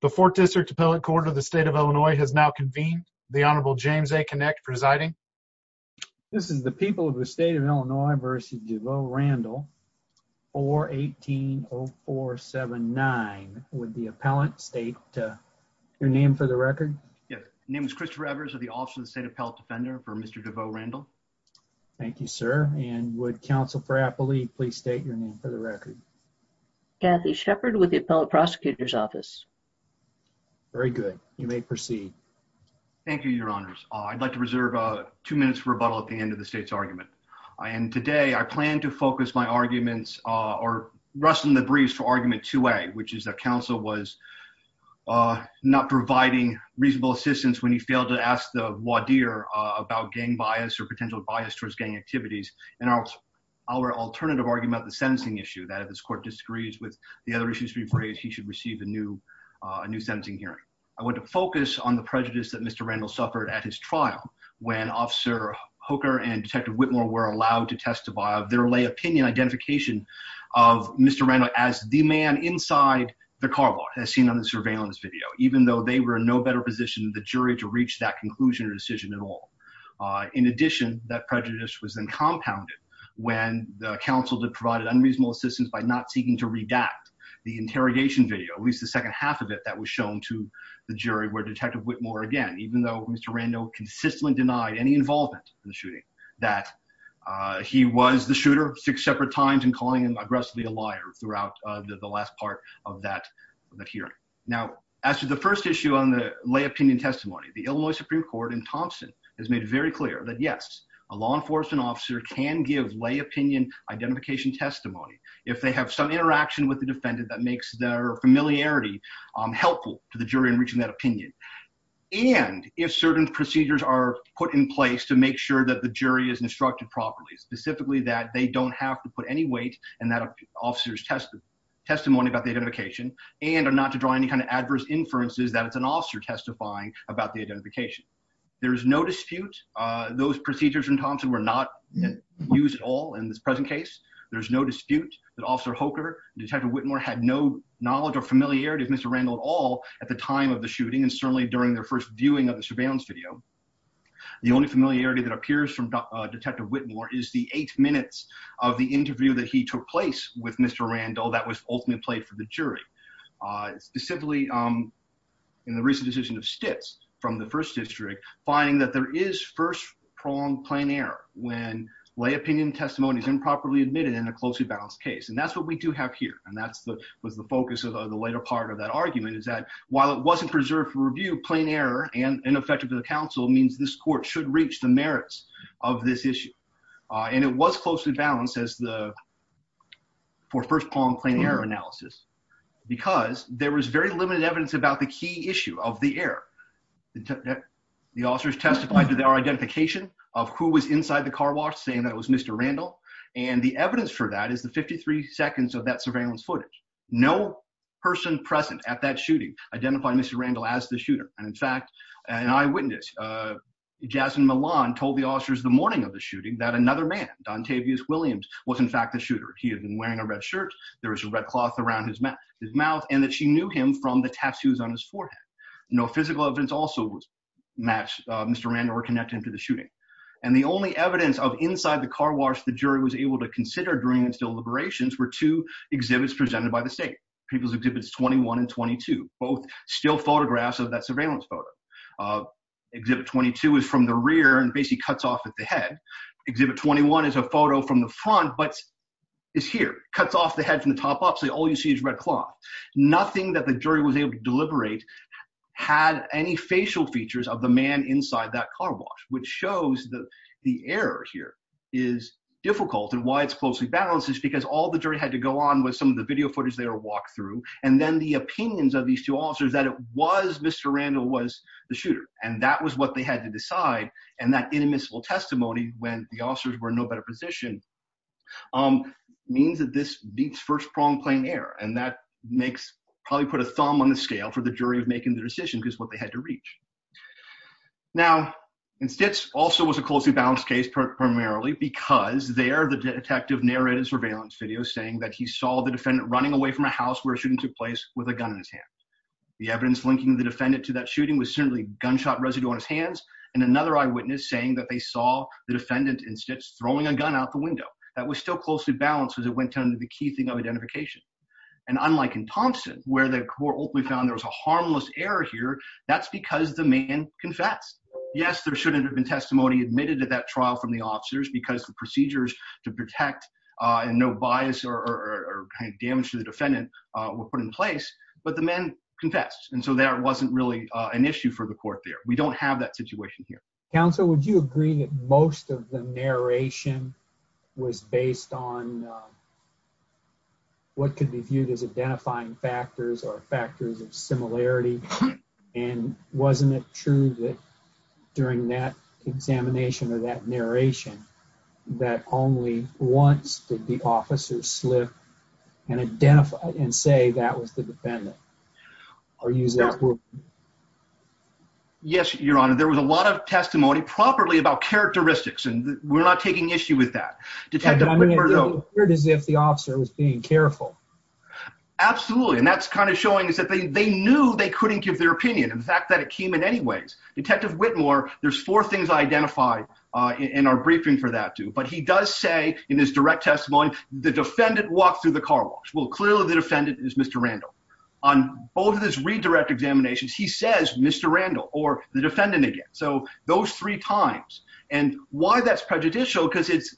the fourth district appellate court of the state of illinois has now convened the honorable james a connect presiding this is the people of the state of illinois versus devoe randall 4 180479 would the appellant state your name for the record yes name is christopher evers of the office of the state appellate defender for mr devoe randall thank you sir and would council for apple leaf please state your name for the record kathy shepherd with the appellate prosecutor's office very good you may proceed thank you your honors i'd like to reserve a two minutes rebuttal at the end of the state's argument and today i plan to focus my arguments uh or rustling the briefs for argument two way which is that council was uh not providing reasonable assistance when he failed to ask the wadir about gang bias or potential bias towards gang activities and our our alternative argument the court disagrees with the other issues we've raised he should receive a new uh new sentencing hearing i want to focus on the prejudice that mr randall suffered at his trial when officer hooker and detective whitmore were allowed to testify of their lay opinion identification of mr randall as the man inside the car bar as seen on the surveillance video even though they were in no better position the jury to reach that conclusion or decision at all uh in addition that prejudice was then compounded when the council had provided unreasonable assistance by not seeking to redact the interrogation video at least the second half of it that was shown to the jury where detective whitmore again even though mr randall consistently denied any involvement in the shooting that uh he was the shooter six separate times and calling him aggressively a liar throughout the last part of that that hearing now as to the first issue on the lay opinion testimony the illinois supreme court in thompson has made very clear that yes a law enforcement officer can give lay opinion identification testimony if they have some interaction with the defendant that makes their familiarity um helpful to the jury in reaching that opinion and if certain procedures are put in place to make sure that the jury is instructed properly specifically that they don't have to put any weight in that officer's testimony testimony about the identification and are not to draw any kind of adverse inferences that it's an officer testifying about the identification there is no dispute uh procedures in thompson were not used at all in this present case there's no dispute that officer hoker detective whitmore had no knowledge or familiarity with mr randall at all at the time of the shooting and certainly during their first viewing of the surveillance video the only familiarity that appears from detective whitmore is the eight minutes of the interview that he took place with mr randall that was ultimately played for the jury uh specifically um in the recent decision of stits from the first district finding that there is first pronged plain error when lay opinion testimony is improperly admitted in a closely balanced case and that's what we do have here and that's the was the focus of the later part of that argument is that while it wasn't preserved for review plain error and ineffective to the council means this court should reach the merits of this issue uh and it was closely balanced as the for first pong plain error analysis because there was very limited evidence about the key issue of the error the officers testified to their identification of who was inside the car wash saying that was mr randall and the evidence for that is the 53 seconds of that surveillance footage no person present at that shooting identified mr randall as the shooter and in fact an eyewitness uh jason milan told the officers the morning of the shooting that another man dontavious williams was in fact the shooter he had been wearing a red shirt there was a red cloth around his mouth his mouth and that she knew him from the tattoos on his forehead no physical evidence also was match uh mr randall were connected to the shooting and the only evidence of inside the car wash the jury was able to consider during its deliberations were two exhibits presented by the state people's exhibits 21 and 22 both still photographs of that surveillance photo uh exhibit 22 is from the rear and basically cuts off at the head exhibit 21 is a photo from the front but is here cuts off the head from the top up all you see is red cloth nothing that the jury was able to deliberate had any facial features of the man inside that car wash which shows that the error here is difficult and why it's closely balanced is because all the jury had to go on with some of the video footage they were walked through and then the opinions of these two officers that it was mr randall was the shooter and that was what they had to decide and that inadmissible testimony when the officers were in no better position um means that this beats first prong playing air and that makes probably put a thumb on the scale for the jury of making the decision because what they had to reach now in stits also was a closely balanced case primarily because there the detective narrated surveillance video saying that he saw the defendant running away from a house where shooting took place with a gun in his hand the evidence linking the defendant to that shooting was certainly gunshot residue on his hands and another eyewitness saying that they throwing a gun out the window that was still closely balanced as it went on to the key thing of identification and unlike in thompson where the court ultimately found there was a harmless error here that's because the man confessed yes there shouldn't have been testimony admitted at that trial from the officers because the procedures to protect uh and no bias or or kind of damage to the defendant uh were put in place but the man confessed and so there wasn't really uh an issue for the court there we don't have that situation here counsel would you agree that most of the narration was based on what could be viewed as identifying factors or factors of similarity and wasn't it true that during that examination or that narration that only once did the officer slip and identify and say that was the defendant i'll use that yes your honor there was a lot of testimony properly about characteristics and we're not taking issue with that detective as if the officer was being careful absolutely and that's kind of showing us that they they knew they couldn't give their opinion and the fact that it came in anyways detective whitmore there's four things identified uh in our briefing for that too but he does say in his direct testimony the defendant walked through the car wash well clearly the defendant is mr randall on both of those redirect examinations he says mr randall or the defendant again so those three times and why that's prejudicial because it's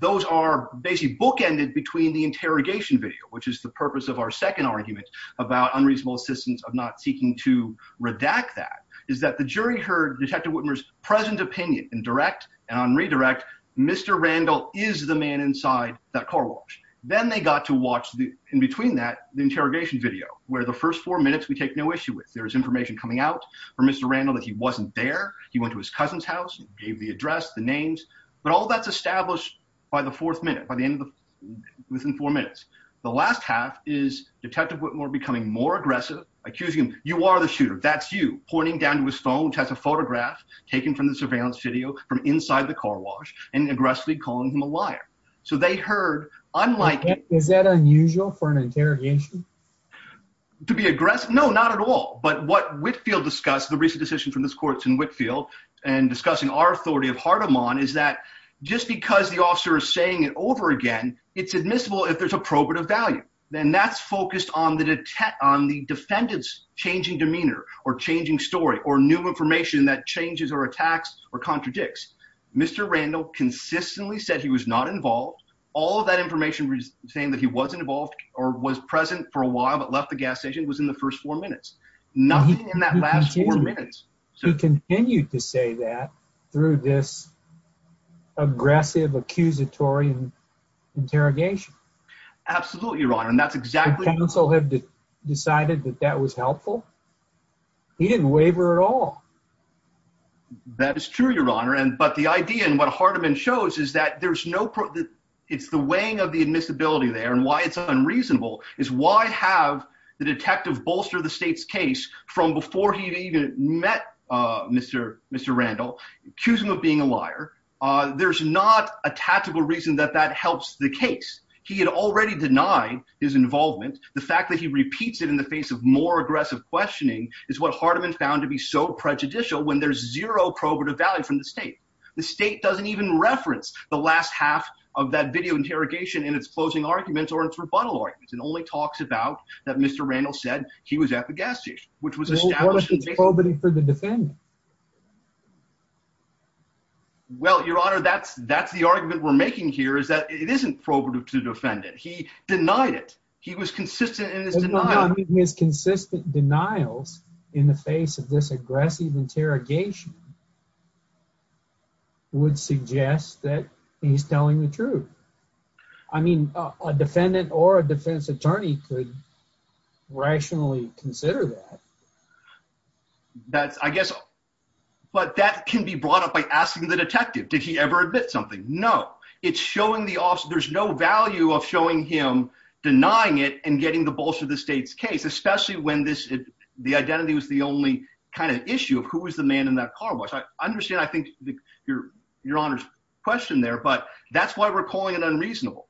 those are basically bookended between the interrogation video which is the purpose of our second argument about unreasonable assistance of not seeking to redact that is that the jury heard detective whitmer's present opinion in direct and on redirect mr randall is the man inside that car wash then they got to watch the in between that the interrogation video where the first four minutes we take no issue with there is information coming out from mr randall that he wasn't there he went to his cousin's house gave the address the names but all that's established by the fourth minute by the end of the within four minutes the last half is detective whitmore becoming more aggressive accusing him you are the shooter that's you pointing down to his phone which has a photograph taken from the surveillance video from inside the car wash and aggressively calling him a liar so they heard unlike is that unusual for an interrogation to be aggressive no not at all but what whitfield discussed the recent decision from this court in whitfield and discussing our authority of hartem on is that just because the officer is saying it over again it's admissible if there's appropriate value then that's focused on the detect on the defendant's changing demeanor or changing story or new information that changes or attacks or contradicts mr randall consistently said he was not involved all of that information saying that he wasn't involved or was present for a while but left the gas station was in the first four minutes nothing in that last four minutes he continued to say that through this aggressive accusatory interrogation absolutely your honor and that's exactly counsel have decided that that was helpful he didn't waiver at all that is true your honor and but the idea and what hardeman shows is that there's no problem it's the weighing of the admissibility there and why it's unreasonable is why have the detective bolster the state's case from before he even met uh mr mr randall accuse him of being a liar uh there's not a tactical reason that that helps the case he had already denied his involvement the fact that he repeats it in the face of more aggressive questioning is what hardeman found to be so prejudicial when there's zero probative value from the state the state doesn't even reference the last half of that video interrogation in its closing arguments or its rebuttal arguments and only talks about that mr randall said he was at the gas station which was established for the defendant well your honor that's that's the argument we're making here is that it isn't probative to defend it he denied it he was consistent in his consistent denials in the face of this aggressive interrogation would suggest that he's telling the truth i mean a defendant or a defense attorney could rationally consider that that's i guess but that can be brought up by asking the detective did he ever admit something no it's showing the officer there's no value of showing him denying it and getting the bolster the state's case especially when this the identity was the only kind of issue of who was the man in that car which i understand i think your your honor's question there but that's why we're calling it unreasonable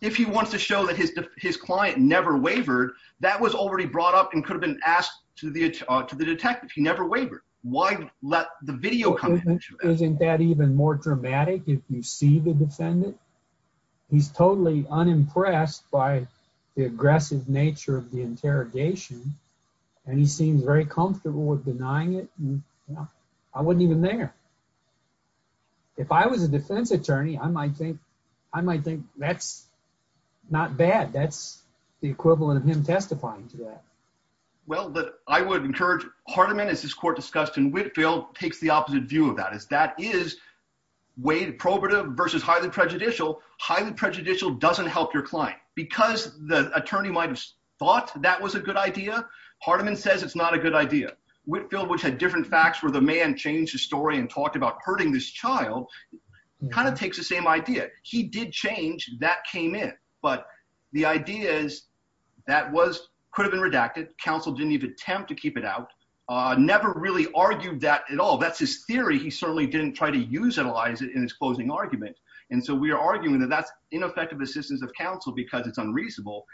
if he wants to show that his his client never wavered that was already brought up and could have been asked to the to the detective he never wavered why let the video come isn't that even more dramatic if you see the defendant he's totally unimpressed by the and he seems very comfortable with denying it i wouldn't even there if i was a defense attorney i might think i might think that's not bad that's the equivalent of him testifying to that well but i would encourage hardeman as this court discussed in whitfield takes the opposite view of that is that is way probative versus highly prejudicial highly prejudicial doesn't help your client because the attorney might have thought that was a good idea hardeman says it's not a good idea whitfield which had different facts where the man changed his story and talked about hurting this child kind of takes the same idea he did change that came in but the idea is that was could have been redacted counsel didn't even attempt to keep it out uh never really argued that at all that's his theory he certainly didn't try to use analyze it in his closing argument and so we are arguing that that's ineffective assistance of counsel because it's unreasonable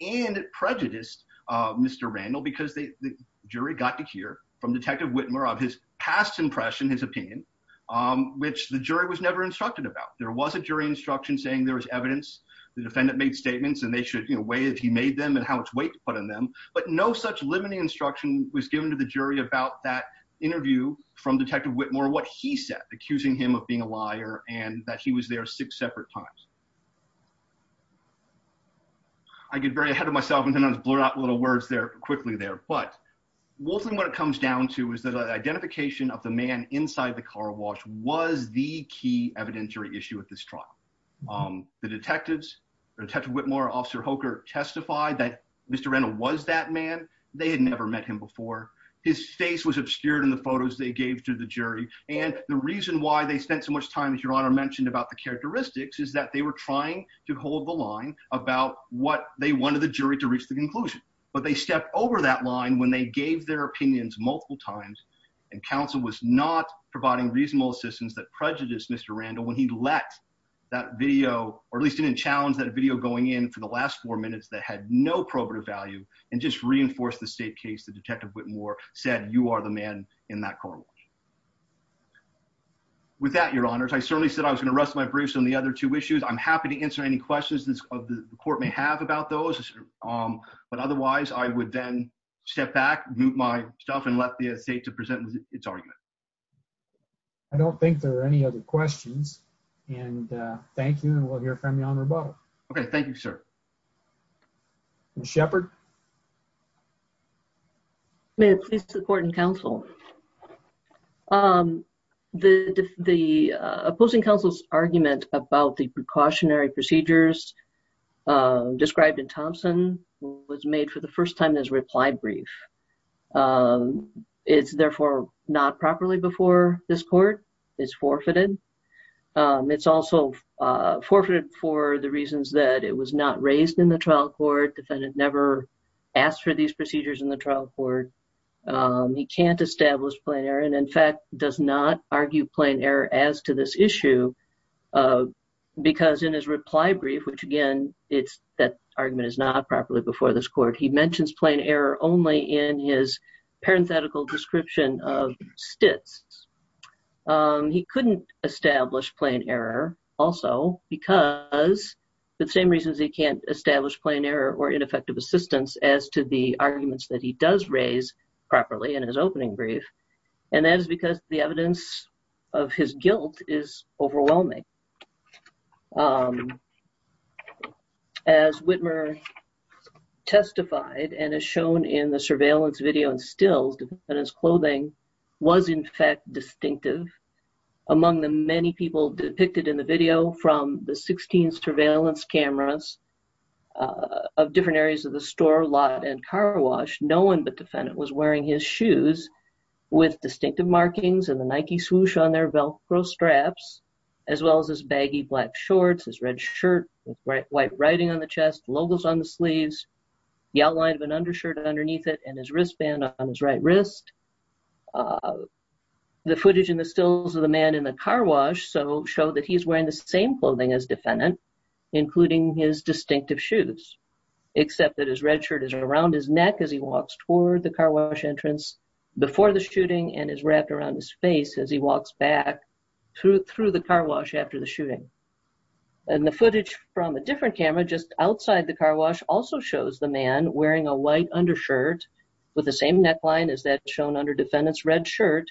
and it prejudiced uh mr randall because they the jury got to hear from detective whitmer of his past impression his opinion um which the jury was never instructed about there was a jury instruction saying there was evidence the defendant made statements and they should you know weigh if he made them and how much weight to put on them but no such limiting instruction was given to the jury about that interview from detective whitmore what he said accusing him of being a liar and that he was there six separate times i get very ahead of myself and sometimes blur out little words there quickly there but mostly what it comes down to is that identification of the man inside the car wash was the key evidentiary issue at this trial um the detectives detective whitmore officer hoker testified that mr randall was that man they had never met him before his face was obscured in the photos they gave to the jury and the reason why they spent so much time as your honor mentioned about the characteristics is that they were trying to hold the line about what they wanted the jury to reach the conclusion but they stepped over that line when they gave their opinions multiple times and counsel was not providing reasonable assistance that prejudiced mr randall when he let that video or at least didn't challenge that video going in for the last four minutes that had no probative value and just reinforced the state case the with that your honors i certainly said i was going to rest my briefs on the other two issues i'm happy to answer any questions this of the court may have about those um but otherwise i would then step back move my stuff and let the estate to present its argument i don't think there are any other questions and thank you and we'll hear from you on rebuttal okay thank you sir shepherd may it please the court and counsel um the the opposing counsel's argument about the precautionary procedures uh described in thompson was made for the first time as reply brief um it's therefore not properly before this court is forfeited um it's also uh forfeited for the reasons that it was not raised in the trial court defendant never asked for these procedures in the trial court he can't establish plain error and in fact does not argue plain error as to this issue uh because in his reply brief which again it's that argument is not properly before this court he mentions plain error only in his parenthetical description of stits um he couldn't establish plain error also because the same reasons he can't establish plain error or ineffective assistance as to the arguments that he does raise properly in his opening brief and that is because the evidence of his guilt is overwhelming um as whitmer testified and is shown in the surveillance video and stills and his clothing was in fact distinctive among the many people depicted in the video from the 16 surveillance cameras of different areas of the store lot and car wash no one but defendant was wearing his shoes with distinctive markings and the nike swoosh on their velcro straps as well as his baggy black shorts his red shirt white writing on the chest logos on the sleeves the outline of an undershirt underneath it and his wristband on his right wrist uh the footage in the stills of the man in the car wash so show that he's wearing the same clothing as defendant including his distinctive shoes except that his red shirt is around his neck as he walks toward the car wash entrance before the shooting and is wrapped around his face as he walks back through through the car wash after the shooting and the footage from a different camera just outside the car wash also shows the man wearing a white undershirt with the same neckline as that shown under defendant's red shirt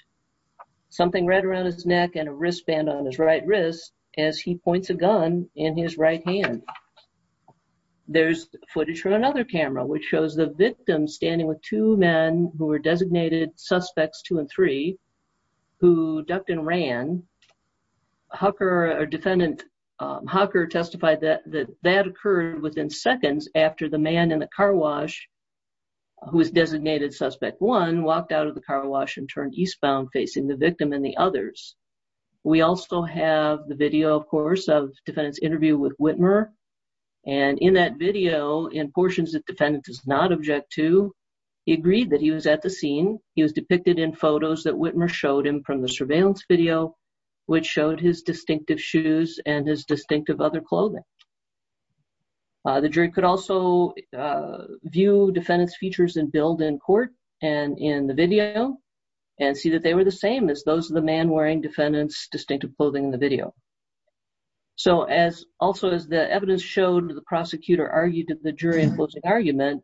something right around his neck and a wristband on his right wrist as he points a gun in his right hand there's footage from another camera which shows the victim standing with two men who were designated suspects two and three who ducked and ran hucker or defendant um hawker testified that that that within seconds after the man in the car wash who is designated suspect one walked out of the car wash and turned eastbound facing the victim and the others we also have the video of course of defendant's interview with whitmer and in that video in portions that defendant does not object to he agreed that he was at the scene he was depicted in photos that whitmer showed him from the surveillance video which showed his distinctive shoes and his distinctive other clothing the jury could also view defendant's features and build in court and in the video and see that they were the same as those of the man wearing defendant's distinctive clothing in the video so as also as the evidence showed the prosecutor argued that the jury enclosing argument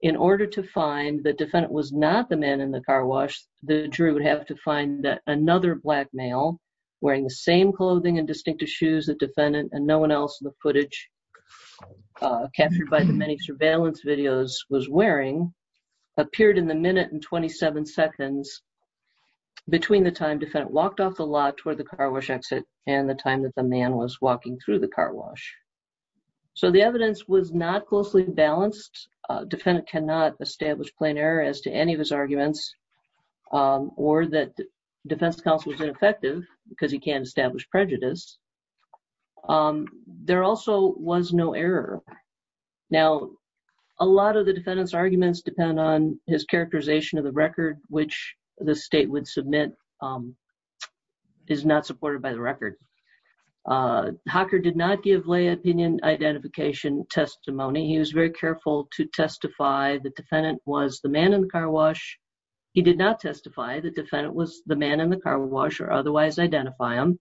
in order to find the defendant was not the man in the car wash the jury would have to find that another black male wearing the same clothing and distinctive shoes that defendant and no one else in the footage captured by the many surveillance videos was wearing appeared in the minute and 27 seconds between the time defendant walked off the lot toward the car wash exit and the time that the man was walking through the car wash so the evidence was not closely balanced defendant cannot establish plain error as to any of his arguments or that defense counsel is ineffective because he can't establish prejudice there also was no error now a lot of the defendant's arguments depend on his characterization of the record which the state would submit is not supported by the record hocker did not give lay opinion identification testimony he was very careful to testify the defendant was the man in the car wash he did not testify the defendant was the man in the car wash or otherwise identify him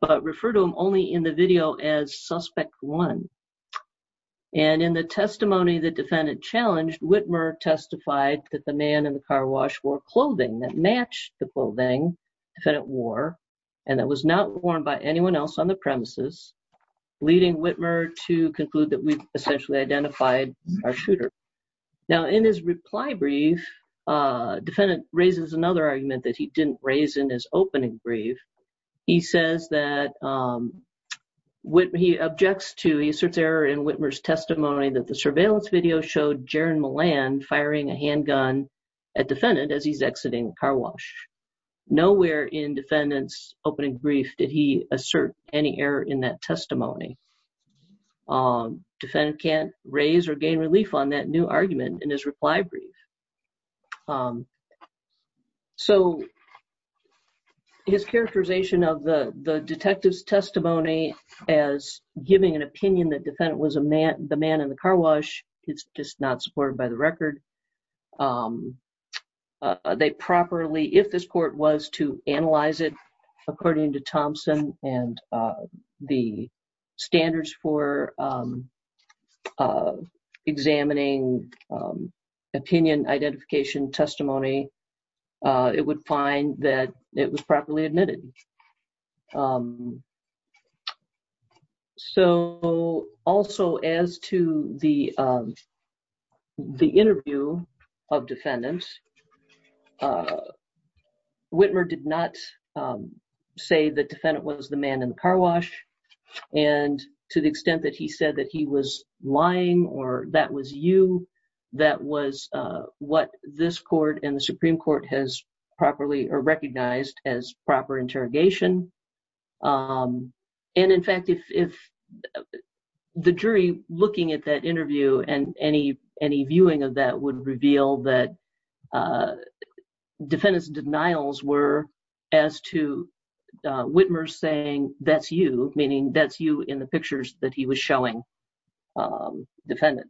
but refer to him only in the video as suspect one and in the testimony the defendant challenged whitmer testified that the man in the car wash wore clothing that matched the clothing defendant wore and that was not worn by anyone else on the premises leading whitmer to conclude that we essentially identified our shooter now in his reply brief uh defendant raises another argument that he didn't raise in his opening brief he says that um what he objects to he asserts error in whitmer's testimony that the surveillance video showed jaron milan firing a handgun at defendant as he's exiting car wash nowhere in defendant's opening brief did he assert any error in that testimony um defendant can't raise or gain relief on that new argument in his reply brief um so his characterization of the the detective's testimony as giving an opinion that defendant was a man the man in the car wash it's just not supported by the record um they properly if this court was to analyze it according to thompson and uh the standards for um examining um opinion identification testimony uh it would find that it was properly admitted so also as to the the interview of defendants uh whitmer did not say the defendant was the man in the car wash and to the extent that he said that he was lying or that was you that was uh what this court and the supreme court has properly or recognized as proper interrogation um and in fact if the jury looking at that interview and any viewing of that would reveal that uh defendant's denials were as to uh whitmer saying that's you meaning that's you in the pictures that he was showing um defendant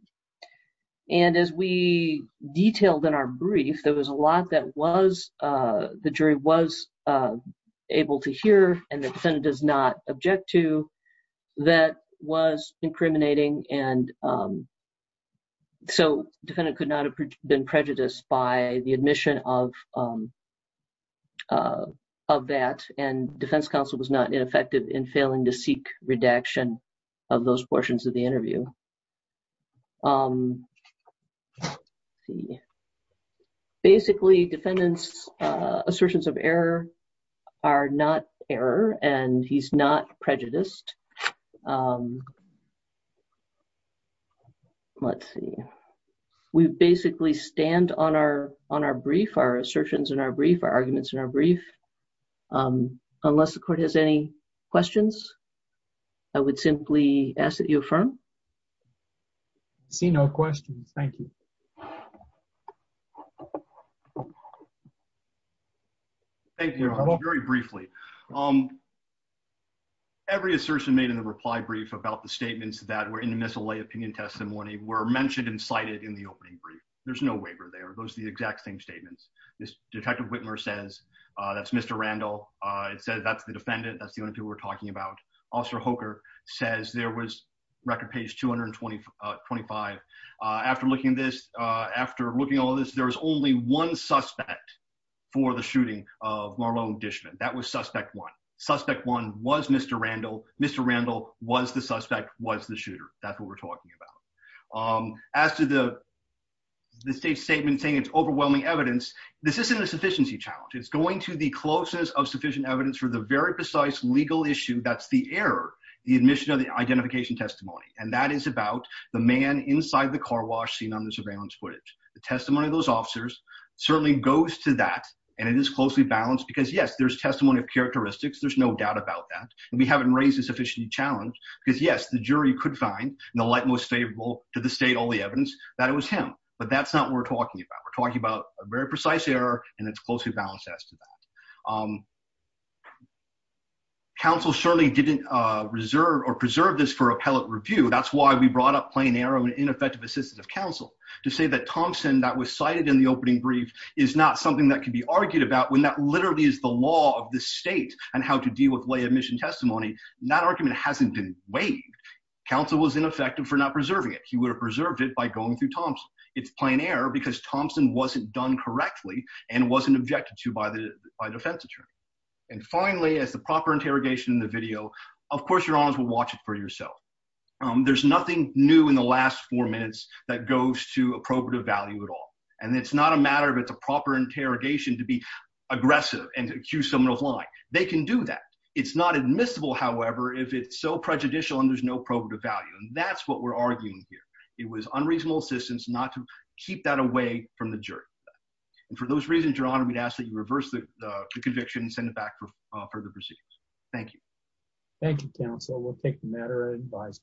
and as we detailed in our brief there was a lot that was uh the jury was uh able to hear and the defendant does not so defendant could not have been prejudiced by the admission of uh of that and defense counsel was not ineffective in failing to seek redaction of those portions of the interview um see basically defendants uh assertions of error are not error and he's not prejudiced um let's see we basically stand on our on our brief our assertions in our brief our arguments in our brief um unless the court has any questions i would simply ask that you affirm see no questions thank you thank you very briefly um every assertion made in the reply brief about the statements that were in the missile lay opinion testimony were mentioned and cited in the opening brief there's no waiver there those are the exact same statements this detective whitmer says uh that's mr randall uh it says that's the defendant that's the only people we're talking about officer hoker says there was record page 220 uh 25 uh after looking at this uh after looking at all this there was only one suspect for the shooting of marlon dishman that was suspect one suspect one was mr randall mr randall was the suspect was the shooter that's what we're talking about um as to the the state's statement saying it's overwhelming evidence this isn't a sufficiency challenge it's going to the closeness of sufficient evidence for the very precise legal issue that's the error the admission of the identification testimony and that is about the man inside the car wash seen on the surveillance footage the testimony of those officers certainly goes to that and it is closely balanced because yes there's testimony of characteristics there's no doubt about that and we haven't raised a sufficient challenge because yes the jury could find in the light most favorable to the state all the evidence that it was him but that's not what we're talking about we're talking about a very precise error and it's closely balanced as to that um counsel surely didn't uh reserve or preserve this for appellate review that's why we brought up plain error and ineffective assistance of counsel to say that thompson that was cited in the opening brief is not something that can be argued about when that literally is the law of the state and how to deal with lay admission testimony that argument hasn't been waived counsel was ineffective for not preserving it he would have preserved it by going through thompson it's plain error because thompson wasn't done correctly and wasn't objected to by the by defense attorney and finally as the proper interrogation in the video of course your honors will watch it for yourself um there's nothing new in the last four minutes that goes to appropriate value at all and it's not a matter of it's a proper interrogation to be aggressive and accuse someone of lying they can do that it's not admissible however if it's so prejudicial and there's no probative value and that's what we're arguing here it was unreasonable assistance not to keep that away from the jury and for those reasons your honor we'd ask that you reverse the conviction and send it back for further proceedings thank you thank you counsel we'll take the matter and advise